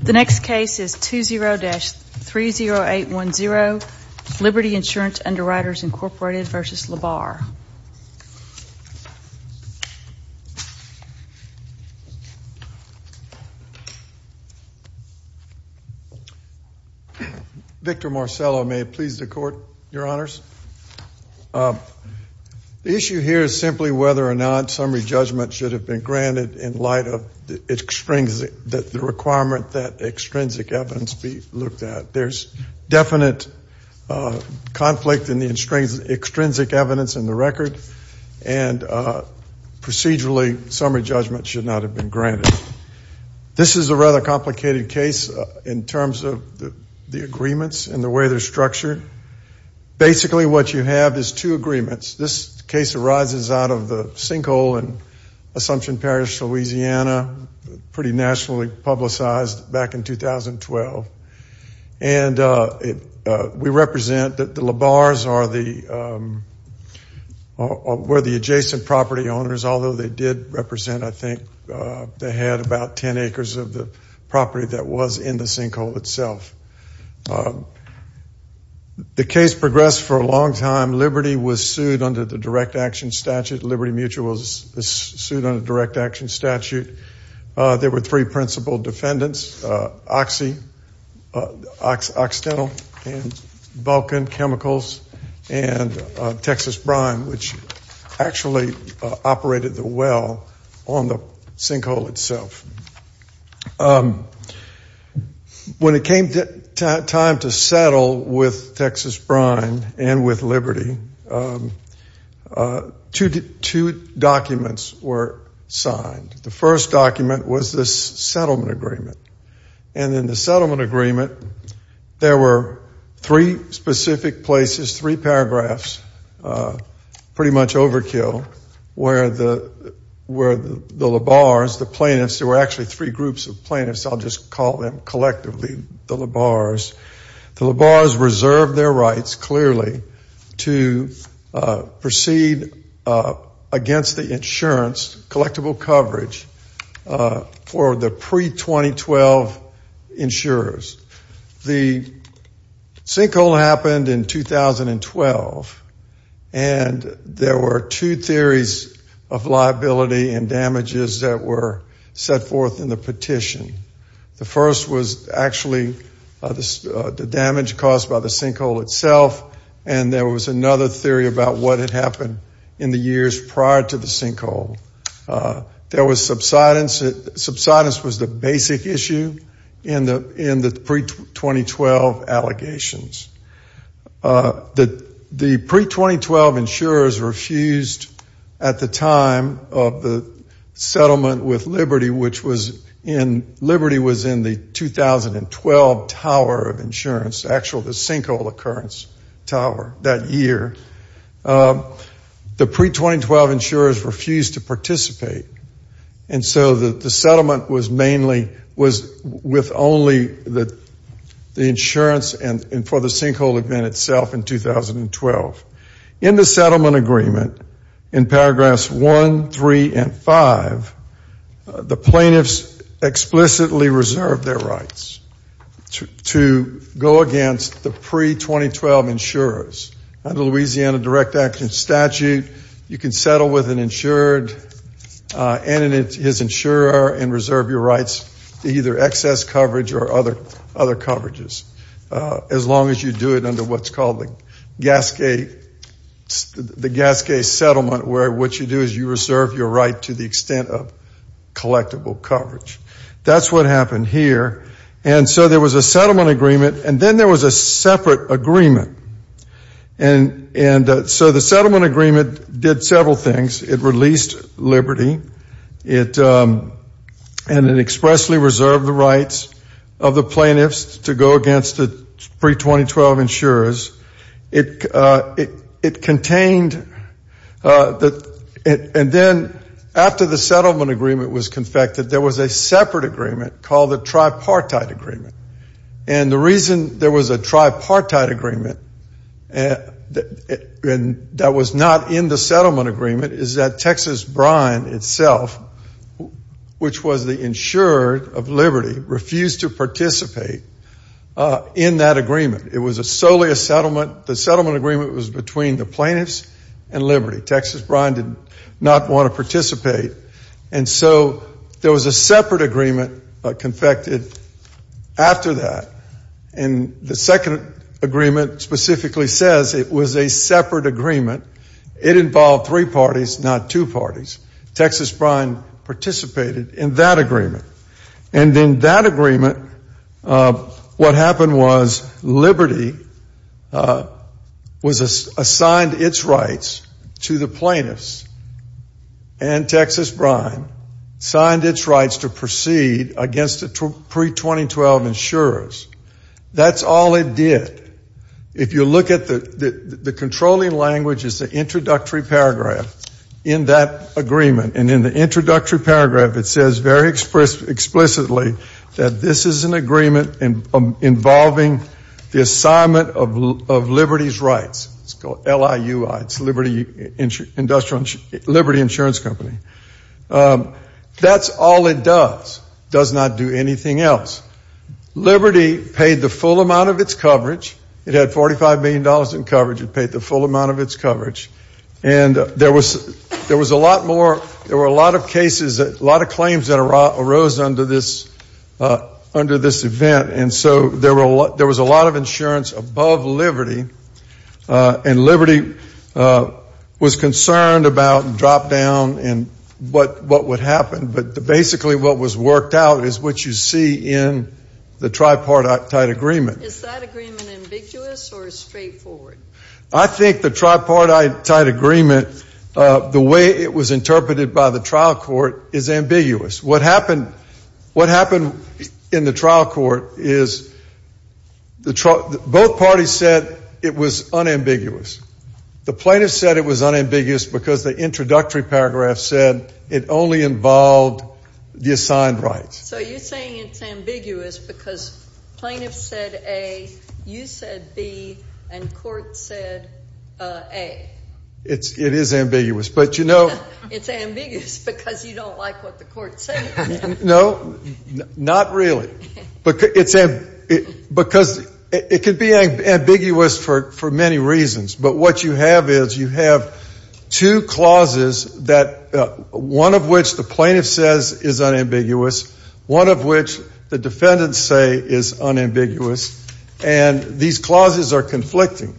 The next case is 20-30810, Liberty Insurance Underwriters Incorporated v. LaBarre. Victor Marcello, may it please the Court, Your Honors. The issue here is simply whether or not summary judgment should have been granted in light of the requirement that extrinsic evidence be looked at. There's definite conflict in the extrinsic evidence in the record, and procedurally, summary judgment should not have been granted. This is a rather complicated case in terms of the agreements and the way they're structured. Basically, what you have is two agreements. This case arises out of the sinkhole in Assumption Parish, Louisiana, pretty nationally publicized back in 2012. And we represent that the LaBarres were the adjacent property owners, although they did represent, I think, they had about 10 acres of the property that was in the sinkhole itself. The case progressed for a long time. Liberty was sued under the Direct Action Statute. Liberty Mutual was sued under the Direct Action Statute. There were three principal defendants, Oxy, Occidental, and Vulcan Chemicals, and Texas Brine, which actually operated the well on the sinkhole itself. When it came time to settle with Texas Brine and with Liberty, two documents were signed. The first document was this settlement agreement. And in the settlement agreement, there were three specific places, three paragraphs, pretty much overkill, where the LaBarres, the plaintiffs, there were actually three groups of plaintiffs. I'll just call them collectively the LaBarres. The LaBarres reserved their rights, clearly, to proceed against the insurance, collectible coverage, for the pre-2012 insurers. The sinkhole happened in 2012, and there were two theories of liability and damages that were set forth in the petition. The first was actually the damage caused by the sinkhole itself, and there was another theory about what had happened in the years prior to the sinkhole. There was subsidence. Subsidence was the basic issue in the pre-2012 allegations. The pre-2012 insurers refused, at the time of the settlement with Liberty, which was in, Liberty was in the 2012 Tower of Insurance, actually the sinkhole occurrence tower that year. The pre-2012 insurers refused to participate, and so the settlement was mainly, was with only the insurance and for the sinkhole event itself in 2012. In the settlement agreement, in paragraphs one, three, and five, the plaintiffs explicitly reserved their rights to go against the pre-2012 insurers. Under the Louisiana Direct Action Statute, you can settle with an insured and his insurer and reserve your rights to either excess coverage or other coverages, as long as you do it under what's called the Gasquet Settlement, where what you do is you reserve your right to the extent of collectible coverage. That's what happened here. And so there was a settlement agreement, and then there was a separate agreement. And so the settlement agreement did several things. It released Liberty, and it expressly reserved the rights of the plaintiffs to go against the pre-2012 insurers. It contained, and then after the settlement agreement was confected, there was a separate agreement called the Tripartite Agreement. And the reason there was a Tripartite Agreement that was not in the settlement agreement is that Texas Brine itself, which was the insurer of Liberty, refused to participate in that agreement. It was solely a settlement. The settlement agreement was between the plaintiffs and Liberty. Texas Brine did not want to participate. And so there was a separate agreement confected after that. And the second agreement specifically says it was a separate agreement. It involved three parties, not two parties. Texas Brine participated in that agreement. And in that agreement, what happened was Liberty was assigned its rights to the plaintiffs, and Texas Brine signed its rights to proceed against the pre-2012 insurers. That's all it did. If you look at the controlling language, it's the introductory paragraph in that agreement. And in the introductory paragraph, it says very explicitly that this is an agreement involving the assignment of Liberty's rights. It's called LIUI. It's Liberty Insurance Company. That's all it does. It does not do anything else. Liberty paid the full amount of its coverage. It had $45 million in coverage. It paid the full amount of its coverage. And there was a lot more. There were a lot of cases, a lot of claims that arose under this event. And so there was a lot of insurance above Liberty, and Liberty was concerned about drop-down and what would happen. But basically what was worked out is what you see in the tripartite agreement. Is that agreement ambiguous or straightforward? I think the tripartite agreement, the way it was interpreted by the trial court, is ambiguous. What happened in the trial court is both parties said it was unambiguous. The plaintiffs said it was unambiguous because the introductory paragraph said it only involved the assigned rights. So you're saying it's ambiguous because plaintiffs said A, you said B, and court said A. It is ambiguous. It's ambiguous because you don't like what the court said. No, not really. Because it could be ambiguous for many reasons. But what you have is you have two clauses, one of which the plaintiff says is unambiguous, one of which the defendants say is unambiguous. And these clauses are conflicting,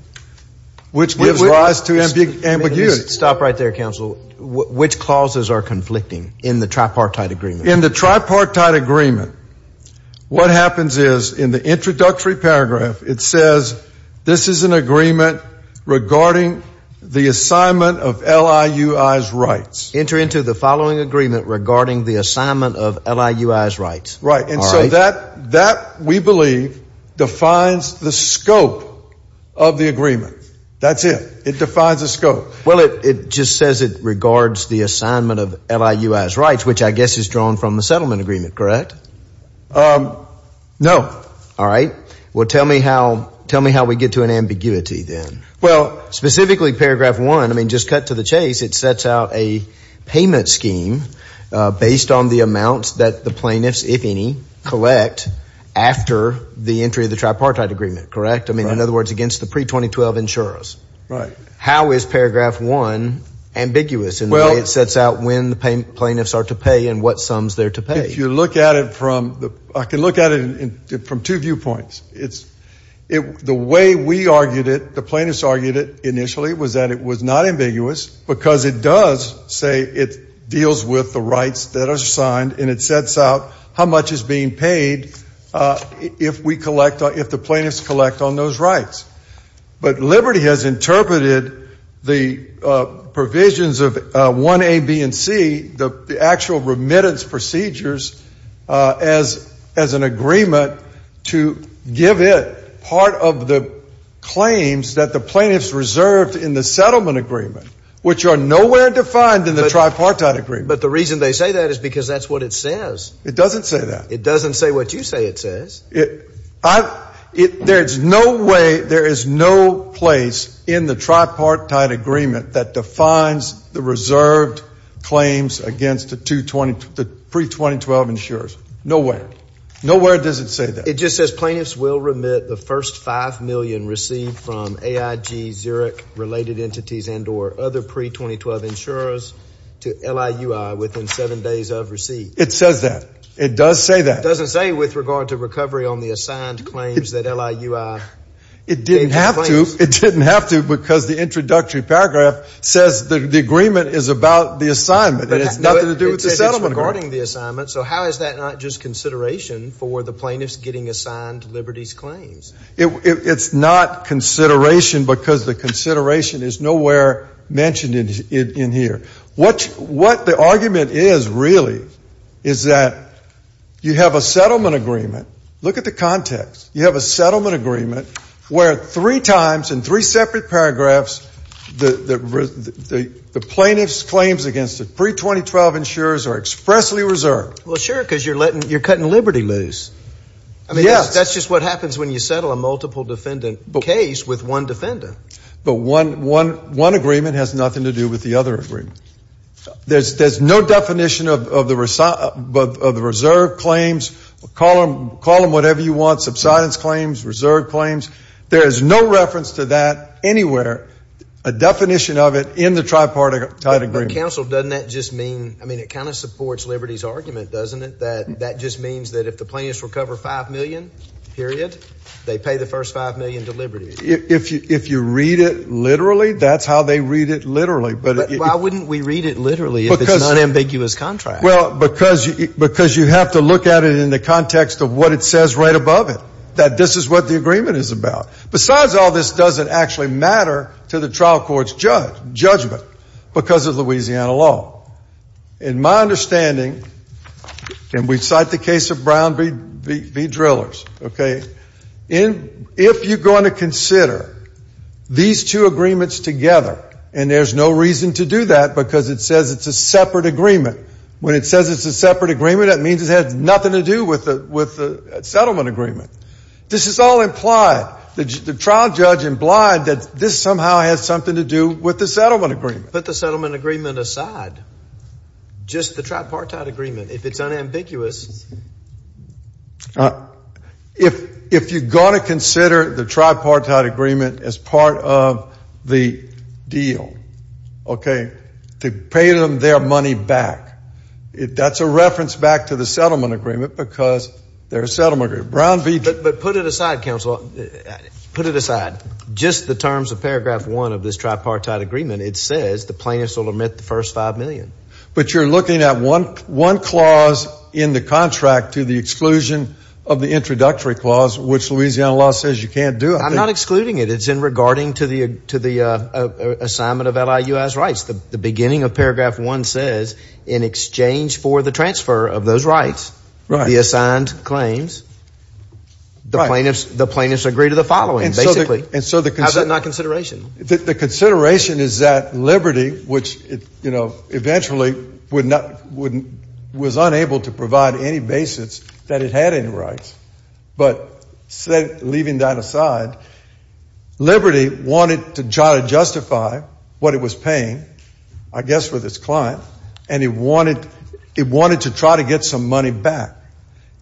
which gives rise to ambiguity. Stop right there, counsel. Which clauses are conflicting in the tripartite agreement? In the tripartite agreement, what happens is in the introductory paragraph it says this is an agreement regarding the assignment of LIUI's rights. Enter into the following agreement regarding the assignment of LIUI's rights. Right. And so that, we believe, defines the scope of the agreement. That's it. It defines the scope. Well, it just says it regards the assignment of LIUI's rights, which I guess is drawn from the settlement agreement, correct? No. All right. Well, tell me how we get to an ambiguity then. Well, specifically paragraph one, I mean, just cut to the chase, it sets out a payment scheme based on the amounts that the plaintiffs, if any, collect after the entry of the tripartite agreement, correct? I mean, in other words, against the pre-2012 insurers. Right. How is paragraph one ambiguous in the way it sets out when the plaintiffs are to pay and what sums they're to pay? If you look at it from, I can look at it from two viewpoints. The way we argued it, the plaintiffs argued it initially was that it was not ambiguous because it does say it deals with the rights that are assigned and it sets out how much is being paid if we collect, if the plaintiffs collect on those rights. But Liberty has interpreted the provisions of 1A, B, and C, the actual remittance procedures, as an agreement to give it part of the claims that the plaintiffs reserved in the settlement agreement, which are nowhere defined in the tripartite agreement. But the reason they say that is because that's what it says. It doesn't say that. It doesn't say what you say it says. There's no way, there is no place in the tripartite agreement that defines the reserved claims against the pre-2012 insurers. Nowhere. Nowhere does it say that. It just says plaintiffs will remit the first five million received from AIG, Zurich-related entities, and or other pre-2012 insurers to LIUI within seven days of receipt. It says that. It does say that. But it doesn't say with regard to recovery on the assigned claims that LIUI. It didn't have to. It didn't have to because the introductory paragraph says the agreement is about the assignment and it's nothing to do with the settlement agreement. But it says it's regarding the assignment, so how is that not just consideration for the plaintiffs getting assigned Liberty's claims? It's not consideration because the consideration is nowhere mentioned in here. What the argument is really is that you have a settlement agreement. Look at the context. You have a settlement agreement where three times in three separate paragraphs the plaintiff's claims against the pre-2012 insurers are expressly reserved. Well, sure, because you're cutting Liberty loose. Yes. That's just what happens when you settle a multiple defendant case with one defendant. But one agreement has nothing to do with the other agreement. There's no definition of the reserve claims. Call them whatever you want, subsidence claims, reserve claims. There is no reference to that anywhere, a definition of it in the tripartite agreement. But, counsel, doesn't that just mean, I mean, it kind of supports Liberty's argument, doesn't it, that that just means that if the plaintiffs recover five million, period, they pay the first five million to Liberty? If you read it literally, that's how they read it literally. But why wouldn't we read it literally if it's an unambiguous contract? Well, because you have to look at it in the context of what it says right above it, that this is what the agreement is about. Besides all this, does it actually matter to the trial court's judgment because of Louisiana law? In my understanding, and we cite the case of Brown v. Drillers, okay, if you're going to consider these two agreements together, and there's no reason to do that because it says it's a separate agreement. When it says it's a separate agreement, that means it has nothing to do with the settlement agreement. This is all implied. The trial judge implied that this somehow has something to do with the settlement agreement. But the settlement agreement aside, just the tripartite agreement, if it's unambiguous. If you're going to consider the tripartite agreement as part of the deal, okay, to pay them their money back, that's a reference back to the settlement agreement because they're a settlement agreement. But put it aside, counsel. Put it aside. Just the terms of paragraph one of this tripartite agreement, it says the plaintiffs will omit the first five million. But you're looking at one clause in the contract to the exclusion of the introductory clause, which Louisiana law says you can't do. I'm not excluding it. It's in regarding to the assignment of LIUI's rights. The beginning of paragraph one says in exchange for the transfer of those rights, the assigned claims, the plaintiffs agree to the following, basically. How is that not consideration? The consideration is that Liberty, which, you know, eventually was unable to provide any basis that it had any rights. But leaving that aside, Liberty wanted to try to justify what it was paying, I guess with its client, and it wanted to try to get some money back.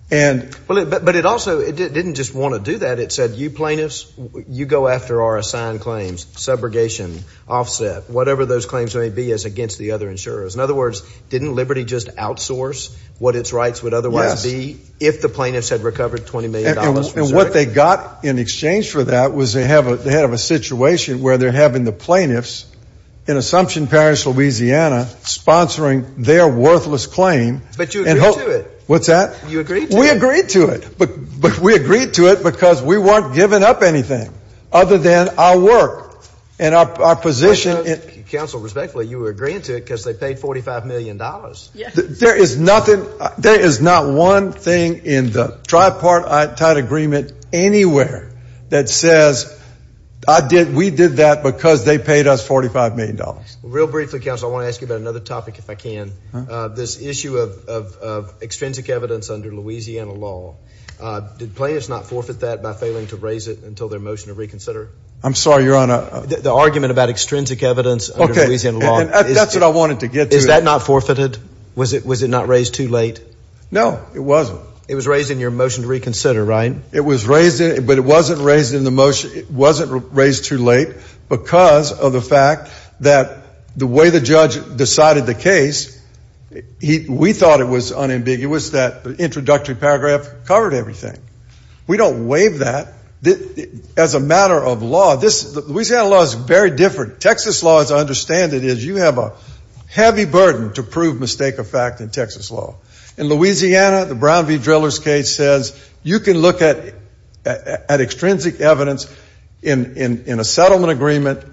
But it also didn't just want to do that. It said you plaintiffs, you go after our assigned claims, subrogation, offset, whatever those claims may be as against the other insurers. In other words, didn't Liberty just outsource what its rights would otherwise be if the plaintiffs had recovered $20 million? And what they got in exchange for that was they have a situation where they're having the plaintiffs in Assumption Parish, Louisiana, sponsoring their worthless claim. But you agree to it. What's that? You agree to it. We agree to it. But we agreed to it because we weren't giving up anything other than our work and our position. Counsel, respectfully, you were agreeing to it because they paid $45 million. There is nothing, there is not one thing in the tripartite agreement anywhere that says I did, we did that because they paid us $45 million. Real briefly, Counsel, I want to ask you about another topic if I can. This issue of extrinsic evidence under Louisiana law. Did plaintiffs not forfeit that by failing to raise it until their motion to reconsider? I'm sorry, Your Honor. The argument about extrinsic evidence under Louisiana law. That's what I wanted to get to. Is that not forfeited? Was it not raised too late? No, it wasn't. It was raised in your motion to reconsider, right? But it wasn't raised in the motion, it wasn't raised too late because of the fact that the way the judge decided the case, we thought it was unambiguous that the introductory paragraph covered everything. We don't waive that. As a matter of law, Louisiana law is very different. Texas law, as I understand it, is you have a heavy burden to prove mistake of fact in Texas law. In Louisiana, the Brown v. Drillers case says you can look at extrinsic evidence in a settlement agreement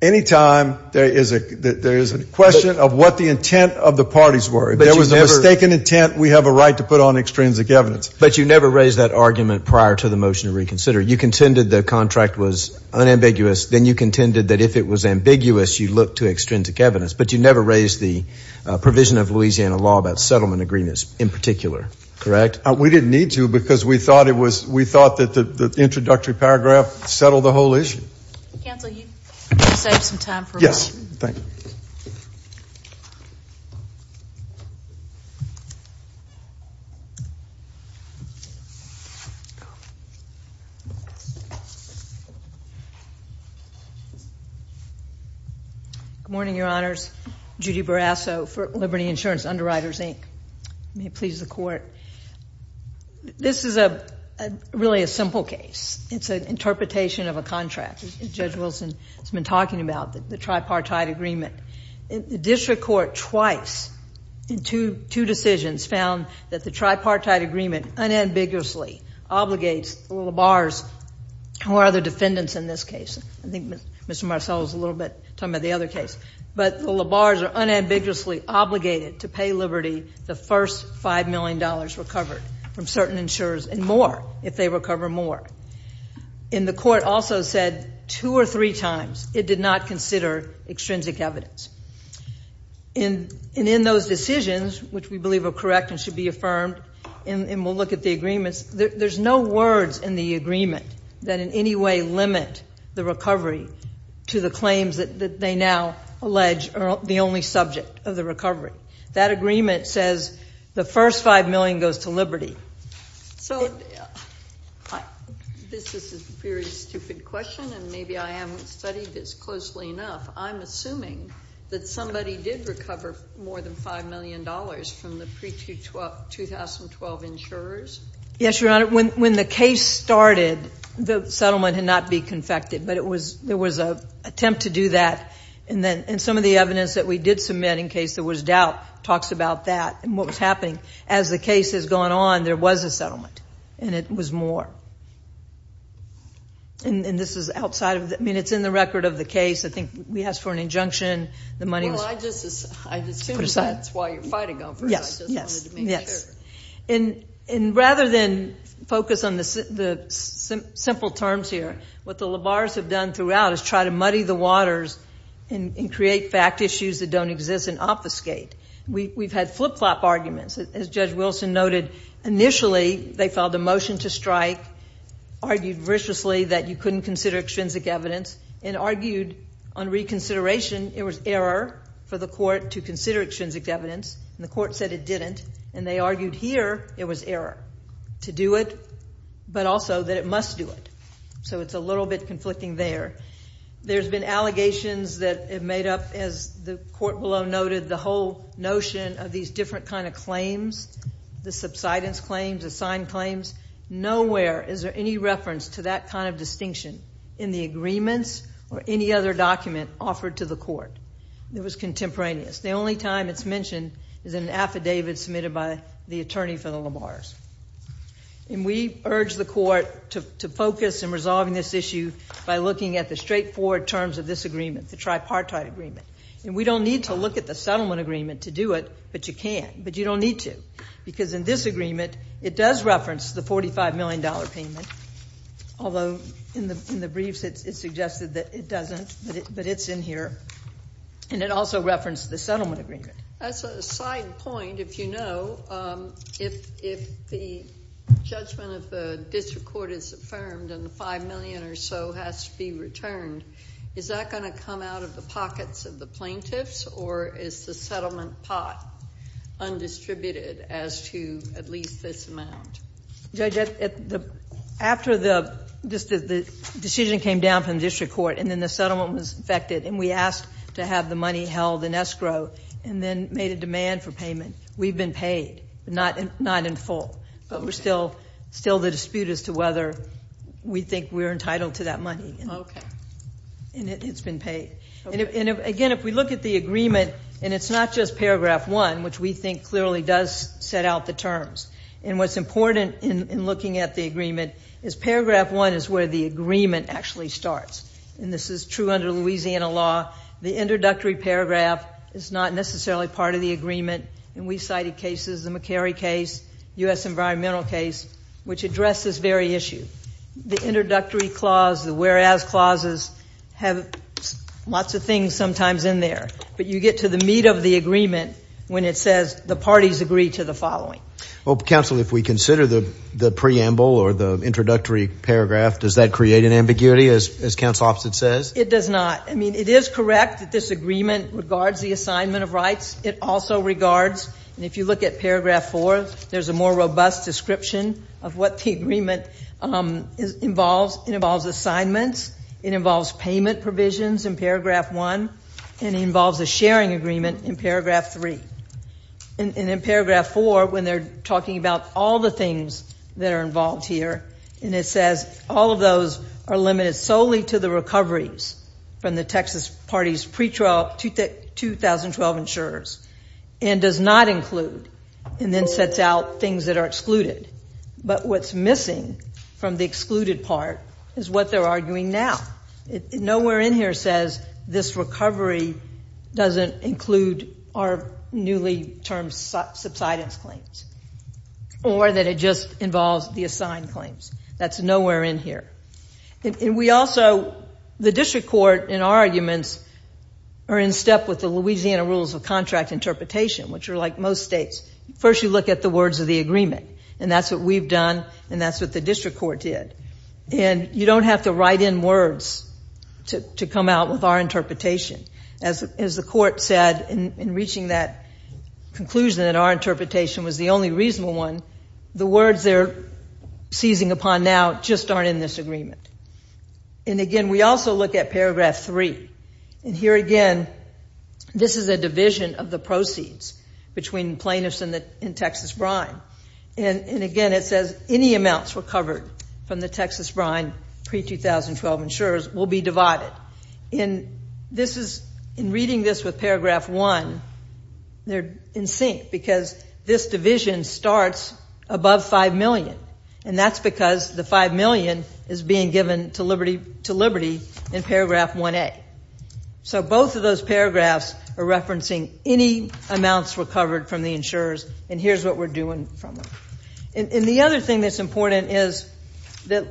anytime there is a question of what the intent of the parties were. If there was a mistaken intent, we have a right to put on extrinsic evidence. But you never raised that argument prior to the motion to reconsider. You contended the contract was unambiguous. Then you contended that if it was ambiguous, you'd look to extrinsic evidence. But you never raised the provision of Louisiana law about settlement agreements in particular, correct? We didn't need to because we thought that the introductory paragraph settled the whole issue. Counsel, you saved some time for us. Yes, thank you. Good morning, Your Honors. Judy Barrasso for Liberty Insurance Underwriters, Inc. May it please the Court. This is really a simple case. It's an interpretation of a contract. Judge Wilson has been talking about the tripartite agreement. The district court twice in two decisions found that the tripartite agreement unambiguously obligates the labars, who are the defendants in this case. I think Mr. Marceau is a little bit talking about the other case. But the labars are unambiguously obligated to pay Liberty the first $5 million recovered from certain insurers and more if they recover more. And the court also said two or three times it did not consider extrinsic evidence. And in those decisions, which we believe are correct and should be affirmed, and we'll look at the agreements, there's no words in the agreement that in any way limit the recovery to the claims that they now allege are the only subject of the recovery. That agreement says the first $5 million goes to Liberty. So this is a very stupid question, and maybe I haven't studied this closely enough. I'm assuming that somebody did recover more than $5 million from the pre-2012 insurers. Yes, Your Honor. When the case started, the settlement had not been confected, but there was an attempt to do that. And some of the evidence that we did submit in case there was doubt talks about that and what was happening. As the case has gone on, there was a settlement, and it was more. And this is outside of the – I mean, it's in the record of the case. I think we asked for an injunction. Well, I just assumed that's why you're fighting over it. Yes, yes, yes. And rather than focus on the simple terms here, what the labars have done throughout is try to muddy the waters and create fact issues that don't exist and obfuscate. We've had flip-flop arguments. As Judge Wilson noted, initially they filed a motion to strike, argued viciously that you couldn't consider extrinsic evidence, and argued on reconsideration it was error for the court to consider extrinsic evidence, and the court said it didn't. And they argued here it was error to do it, but also that it must do it. So it's a little bit conflicting there. There's been allegations that have made up, as the court below noted, the whole notion of these different kind of claims, the subsidence claims, the signed claims. Nowhere is there any reference to that kind of distinction in the agreements or any other document offered to the court. It was contemporaneous. The only time it's mentioned is in an affidavit submitted by the attorney for the labars. And we urge the court to focus in resolving this issue by looking at the straightforward terms of this agreement, the tripartite agreement. And we don't need to look at the settlement agreement to do it, but you can. But you don't need to, because in this agreement it does reference the $45 million payment, although in the briefs it suggested that it doesn't, but it's in here, and it also referenced the settlement agreement. As a side point, if you know, if the judgment of the district court is affirmed and the $5 million or so has to be returned, is that going to come out of the pockets of the plaintiffs or is the settlement pot undistributed as to at least this amount? Judge, after the decision came down from the district court and then the settlement was affected and we asked to have the money held in escrow and then made a demand for payment, we've been paid, not in full. But we're still the dispute as to whether we think we're entitled to that money. Okay. And it's been paid. And, again, if we look at the agreement, and it's not just paragraph one, which we think clearly does set out the terms. And what's important in looking at the agreement is paragraph one is where the agreement actually starts. And this is true under Louisiana law. The introductory paragraph is not necessarily part of the agreement. And we cited cases, the McCary case, U.S. environmental case, which address this very issue. The introductory clause, the whereas clauses have lots of things sometimes in there. But you get to the meat of the agreement when it says the parties agree to the following. Well, counsel, if we consider the preamble or the introductory paragraph, does that create an ambiguity, as counsel opposite says? It does not. I mean, it is correct that this agreement regards the assignment of rights. It also regards, and if you look at paragraph four, there's a more robust description of what the agreement involves. It involves assignments. It involves payment provisions in paragraph one. And it involves a sharing agreement in paragraph three. And in paragraph four, when they're talking about all the things that are involved here, and it says all of those are limited solely to the recoveries from the Texas party's pre-2012 insurers and does not include and then sets out things that are excluded. But what's missing from the excluded part is what they're arguing now. Nowhere in here says this recovery doesn't include our newly termed subsidence claims or that it just involves the assigned claims. That's nowhere in here. And we also, the district court in our arguments are in step with the Louisiana Rules of Contract Interpretation, which are like most states. First, you look at the words of the agreement. And that's what we've done, and that's what the district court did. And you don't have to write in words to come out with our interpretation. As the court said in reaching that conclusion that our interpretation was the only reasonable one, the words they're seizing upon now just aren't in this agreement. And again, we also look at paragraph three. And here again, this is a division of the proceeds between plaintiffs and Texas Brine. And again, it says any amounts recovered from the Texas Brine pre-2012 insurers will be divided. In reading this with paragraph one, they're in sync because this division starts above $5 million. And that's because the $5 million is being given to Liberty in paragraph 1A. So both of those paragraphs are referencing any amounts recovered from the insurers. And here's what we're doing from them. And the other thing that's important is that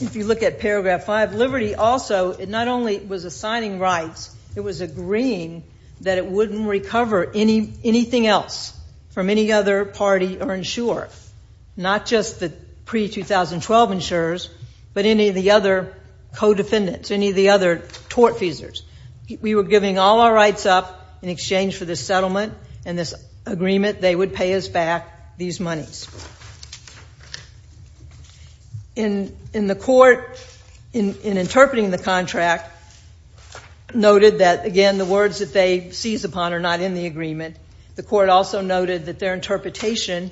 if you look at paragraph five, Liberty also not only was assigning rights, it was agreeing that it wouldn't recover anything else from any other party or insurer, not just the pre-2012 insurers, but any of the other co-defendants, any of the other tort feasors. We were giving all our rights up in exchange for this settlement and this agreement. They would pay us back these monies. In the court, in interpreting the contract, noted that, again, the words that they seize upon are not in the agreement. The court also noted that their interpretation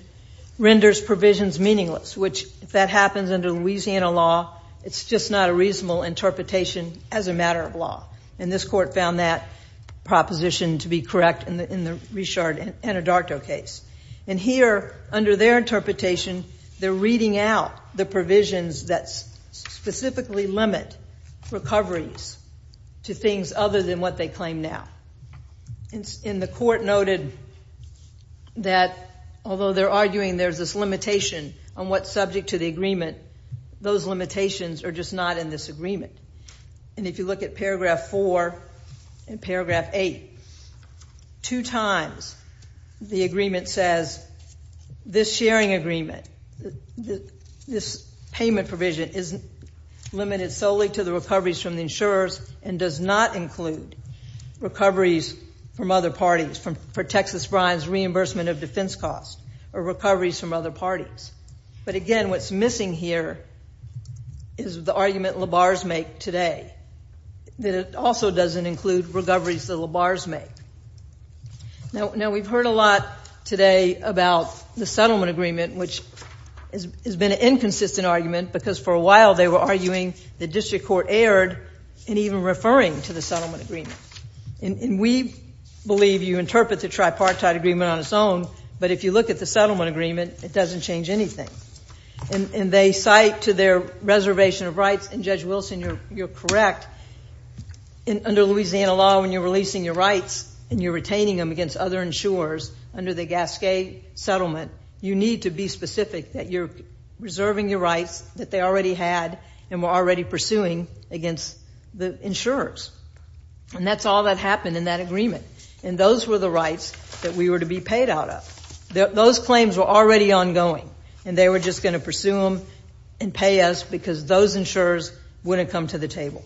renders provisions meaningless, which, if that happens under Louisiana law, it's just not a reasonable interpretation as a matter of law. And this court found that proposition to be correct in the Richard Anadarto case. And here, under their interpretation, they're reading out the provisions that specifically limit recoveries to things other than what they claim now. And the court noted that, although they're arguing there's this limitation on what's subject to the agreement, those limitations are just not in this agreement. And if you look at paragraph four and paragraph eight, two times the agreement says this sharing agreement, this payment provision isn't limited solely to the recoveries from the insurers and does not include recoveries from other parties for Texas Brines' reimbursement of defense costs or recoveries from other parties. But, again, what's missing here is the argument Labar's make today, that it also doesn't include recoveries that Labar's make. Now, we've heard a lot today about the settlement agreement, which has been an inconsistent argument because, for a while, they were arguing the district court erred in even referring to the settlement agreement. And we believe you interpret the tripartite agreement on its own, but if you look at the settlement agreement, it doesn't change anything. And they cite to their reservation of rights. And, Judge Wilson, you're correct. Under Louisiana law, when you're releasing your rights and you're retaining them against other insurers under the Gasquet settlement, you need to be specific that you're reserving your rights that they already had and were already pursuing against the insurers. And that's all that happened in that agreement. And those were the rights that we were to be paid out of. Those claims were already ongoing, and they were just going to pursue them and pay us because those insurers wouldn't come to the table.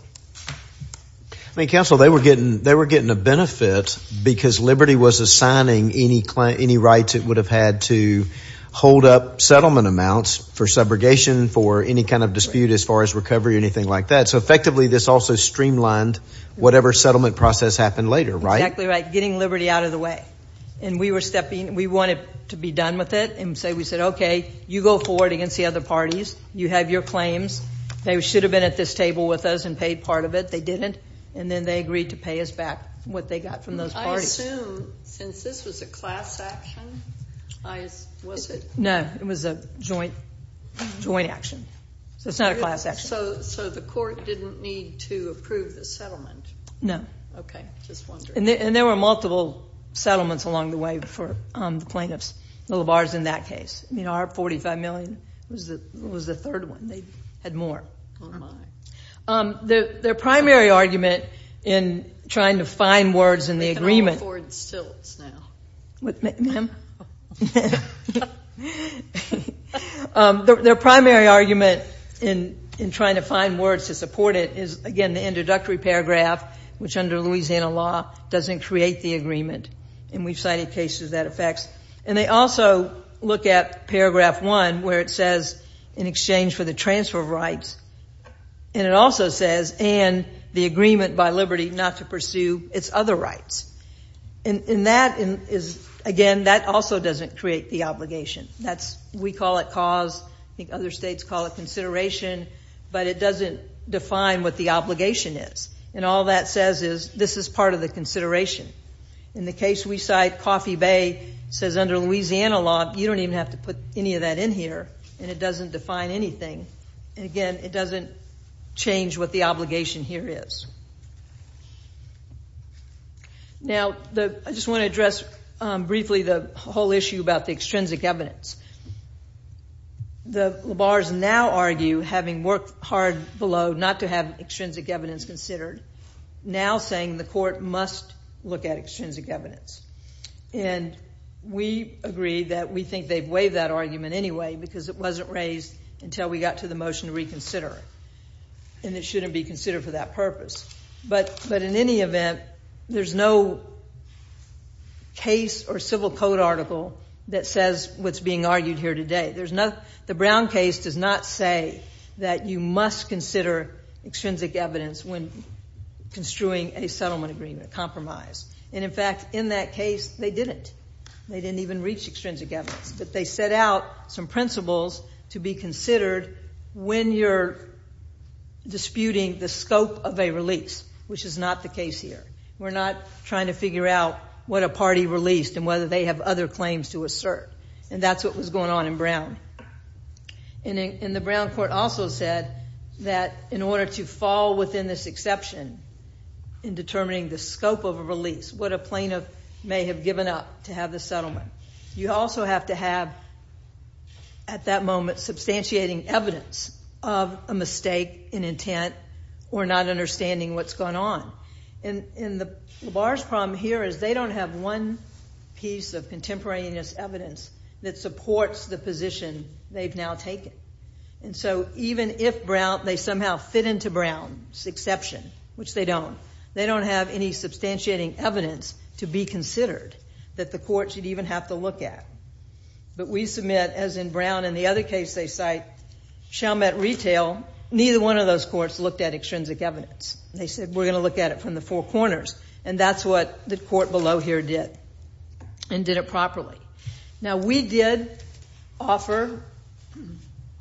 I mean, Counsel, they were getting a benefit because Liberty was assigning any rights it would have had to hold up settlement amounts for subrogation, for any kind of dispute as far as recovery or anything like that. So, effectively, this also streamlined whatever settlement process happened later, right? Exactly right. Getting Liberty out of the way. And we were stepping – we wanted to be done with it. And we said, okay, you go forward against the other parties. You have your claims. They should have been at this table with us and paid part of it. They didn't. And then they agreed to pay us back what they got from those parties. I assume, since this was a class action, was it? No, it was a joint action. So it's not a class action. So the court didn't need to approve the settlement? No. Okay, just wondering. And there were multiple settlements along the way for the plaintiffs. I mean, our $45 million was the third one. They had more. Oh, my. Their primary argument in trying to find words in the agreement. They can all afford stilts now. What, ma'am? Their primary argument in trying to find words to support it is, again, the introductory paragraph, which under Louisiana law doesn't create the agreement. And we've cited cases that affects. And they also look at paragraph one, where it says, in exchange for the transfer of rights. And it also says, and the agreement by liberty not to pursue its other rights. And that is, again, that also doesn't create the obligation. We call it cause. I think other states call it consideration. But it doesn't define what the obligation is. And all that says is, this is part of the consideration. In the case we cite, Coffee Bay says under Louisiana law, you don't even have to put any of that in here. And it doesn't define anything. And, again, it doesn't change what the obligation here is. Now, I just want to address briefly the whole issue about the extrinsic evidence. The labars now argue, having worked hard below not to have extrinsic evidence considered, now saying the court must look at extrinsic evidence. And we agree that we think they've waived that argument anyway, because it wasn't raised until we got to the motion to reconsider. And it shouldn't be considered for that purpose. But in any event, there's no case or civil code article that says what's being argued here today. The Brown case does not say that you must consider extrinsic evidence when construing a settlement agreement, a compromise. And, in fact, in that case, they didn't. They didn't even reach extrinsic evidence. But they set out some principles to be considered when you're disputing the scope of a release, which is not the case here. We're not trying to figure out what a party released and whether they have other claims to assert. And that's what was going on in Brown. And the Brown court also said that in order to fall within this exception in determining the scope of a release, what a plaintiff may have given up to have the settlement, you also have to have, at that moment, substantiating evidence of a mistake in intent or not understanding what's gone on. And the bar's problem here is they don't have one piece of contemporaneous evidence that supports the position they've now taken. And so even if they somehow fit into Brown's exception, which they don't, they don't have any substantiating evidence to be considered that the court should even have to look at. But we submit, as in Brown and the other case they cite, Chalmette Retail, neither one of those courts looked at extrinsic evidence. They said, we're going to look at it from the four corners. And that's what the court below here did and did it properly. Now, we did offer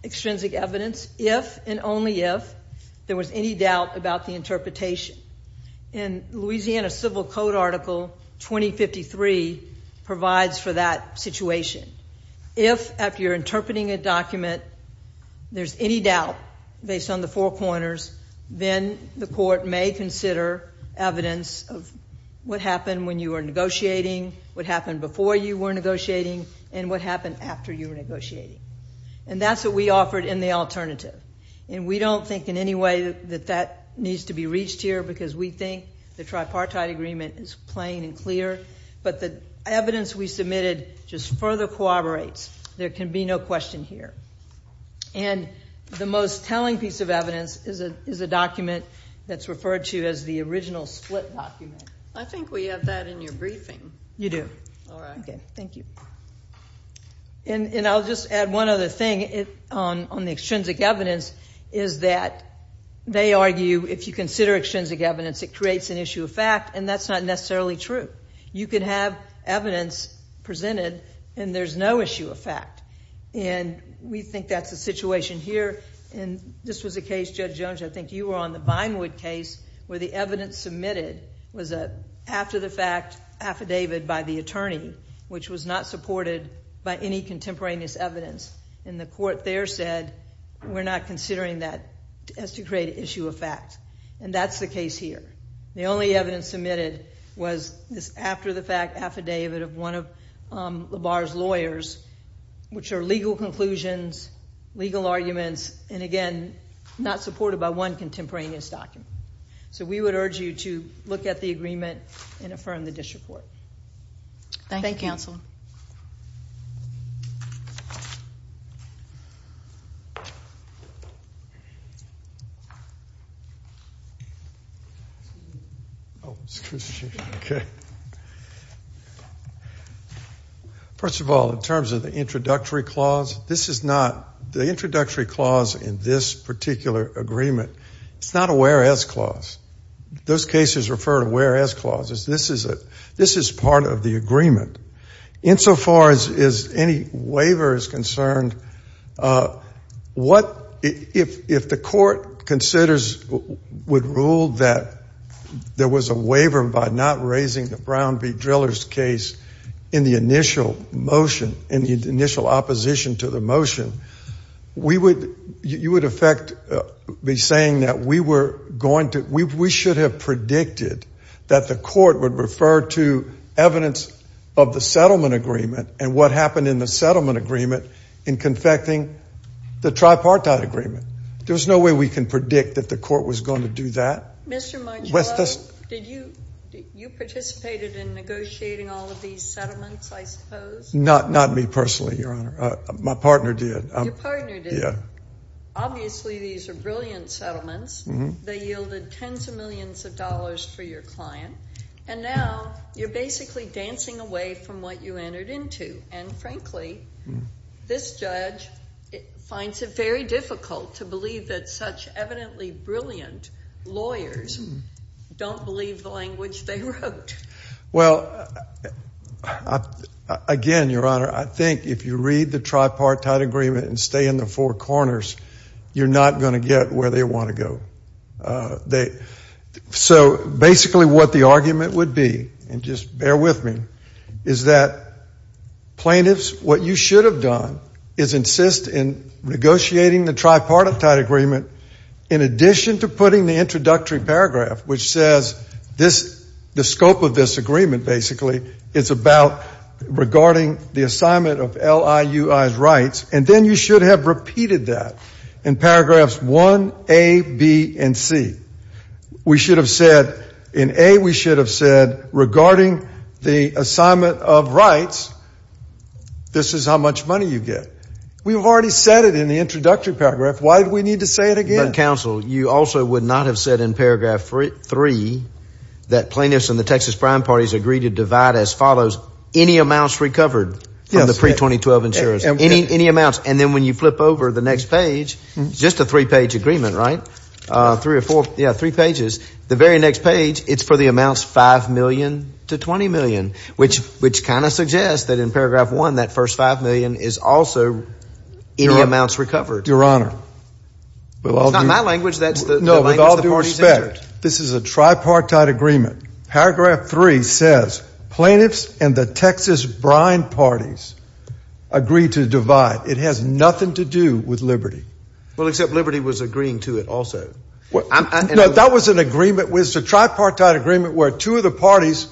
extrinsic evidence if and only if there was any doubt about the interpretation. And Louisiana Civil Code Article 2053 provides for that situation. If, after you're interpreting a document, there's any doubt based on the four corners, then the court may consider evidence of what happened when you were negotiating, what happened before you were negotiating, and what happened after you were negotiating. And that's what we offered in the alternative. And we don't think in any way that that needs to be reached here because we think the tripartite agreement is plain and clear. But the evidence we submitted just further corroborates. There can be no question here. And the most telling piece of evidence is a document that's referred to as the original split document. I think we have that in your briefing. You do. All right. Thank you. And I'll just add one other thing on the extrinsic evidence is that they argue if you consider extrinsic evidence, it creates an issue of fact, and that's not necessarily true. You can have evidence presented, and there's no issue of fact. And we think that's the situation here. And this was a case, Judge Jones, I think you were on the Binewood case, where the evidence submitted was an after-the-fact affidavit by the attorney, which was not supported by any contemporaneous evidence. And the court there said, we're not considering that as to create an issue of fact. And that's the case here. The only evidence submitted was this after-the-fact affidavit of one of LaBar's lawyers, which are legal conclusions, legal arguments, and, again, not supported by one contemporaneous document. So we would urge you to look at the agreement and affirm the district court. Thank you. Thank you, counsel. Oh, excuse me. Okay. First of all, in terms of the introductory clause, this is not the introductory clause in this particular agreement. It's not a whereas clause. Those cases refer to whereas clauses. This is part of the agreement. Insofar as any waiver is concerned, if the court considers, would rule that there was a waiver by not raising the Brown v. Driller's case in the initial motion, in the initial opposition to the motion, you would, in effect, be saying that we should have predicted that the court would refer to evidence of the settlement agreement and what happened in the settlement agreement in confecting the tripartite agreement. There's no way we can predict that the court was going to do that. Mr. Marcello, did you participate in negotiating all of these settlements, I suppose? Not me personally, Your Honor. My partner did. Your partner did? Yeah. Obviously, these are brilliant settlements. They yielded tens of millions of dollars for your client, and now you're basically dancing away from what you entered into. And, frankly, this judge finds it very difficult to believe that such evidently brilliant lawyers don't believe the language they wrote. Well, again, Your Honor, I think if you read the tripartite agreement and stay in the four corners, you're not going to get where they want to go. So basically what the argument would be, and just bear with me, is that plaintiffs, what you should have done is insist in negotiating the tripartite agreement in addition to putting the introductory paragraph, which says the scope of this agreement basically is about regarding the assignment of LIUI's rights, and then you should have repeated that in paragraphs 1A, B, and C. We should have said in A, we should have said regarding the assignment of rights, this is how much money you get. We've already said it in the introductory paragraph. Why do we need to say it again? You also would not have said in paragraph 3 that plaintiffs and the Texas prime parties agree to divide as follows, any amounts recovered from the pre-2012 insurance, any amounts. And then when you flip over the next page, just a three-page agreement, right? Three or four, yeah, three pages. The very next page, it's for the amounts $5 million to $20 million, which kind of suggests that in paragraph 1, that first $5 million is also any amounts recovered. Your Honor. It's not my language. No, with all due respect, this is a tripartite agreement. Paragraph 3 says plaintiffs and the Texas prime parties agree to divide. It has nothing to do with liberty. Well, except liberty was agreeing to it also. No, that was an agreement. It was a tripartite agreement where two of the parties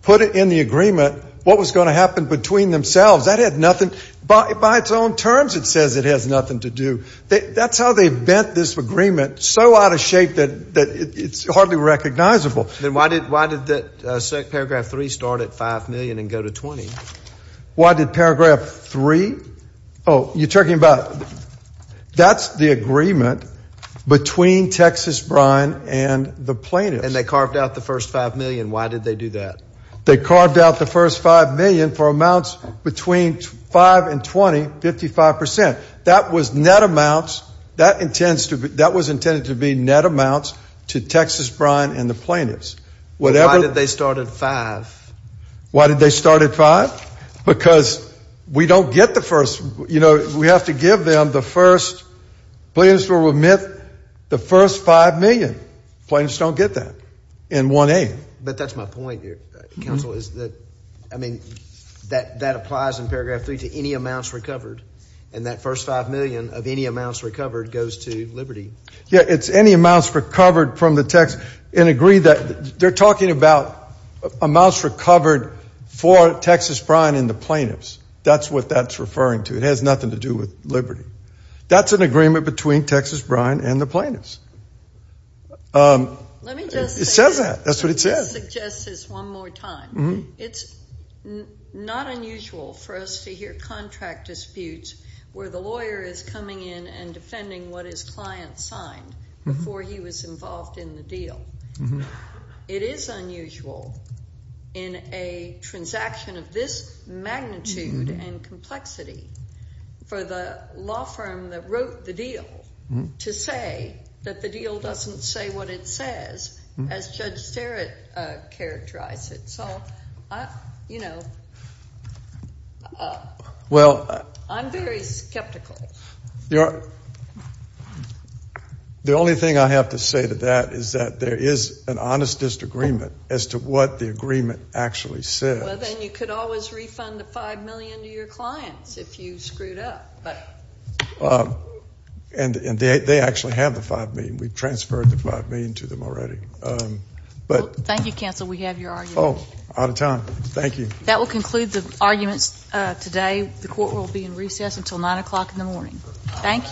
put in the agreement what was going to happen between themselves. That had nothing. By its own terms, it says it has nothing to do. That's how they've bent this agreement so out of shape that it's hardly recognizable. Then why did paragraph 3 start at $5 million and go to $20 million? Why did paragraph 3? Oh, you're talking about that's the agreement between Texas prime and the plaintiffs. And they carved out the first $5 million. Why did they do that? They carved out the first $5 million for amounts between 5 and 20, 55%. That was net amounts. That was intended to be net amounts to Texas prime and the plaintiffs. Why did they start at $5? Why did they start at $5? Because we don't get the first. You know, we have to give them the first. Plaintiffs will remit the first $5 million. Plaintiffs don't get that in 1A. But that's my point here, counsel, is that, I mean, that applies in paragraph 3 to any amounts recovered. And that first $5 million of any amounts recovered goes to Liberty. Yeah, it's any amounts recovered from the Texas. And agree that they're talking about amounts recovered for Texas prime and the plaintiffs. That's what that's referring to. It has nothing to do with Liberty. That's an agreement between Texas prime and the plaintiffs. Let me just say. That's what it says. Let me just suggest this one more time. It's not unusual for us to hear contract disputes where the lawyer is coming in and defending what his client signed before he was involved in the deal. It is unusual in a transaction of this magnitude and complexity for the law firm that wrote the deal to say that the deal doesn't say what it says as Judge Sterritt characterized it. So, you know, I'm very skeptical. The only thing I have to say to that is that there is an honest disagreement as to what the agreement actually says. Well, then you could always refund the $5 million to your clients if you screwed up. And they actually have the $5 million. We've transferred the $5 million to them already. Thank you, counsel. We have your argument. Oh, out of time. Thank you. That will conclude the arguments today. The court will be in recess until 9 o'clock in the morning. Thank you.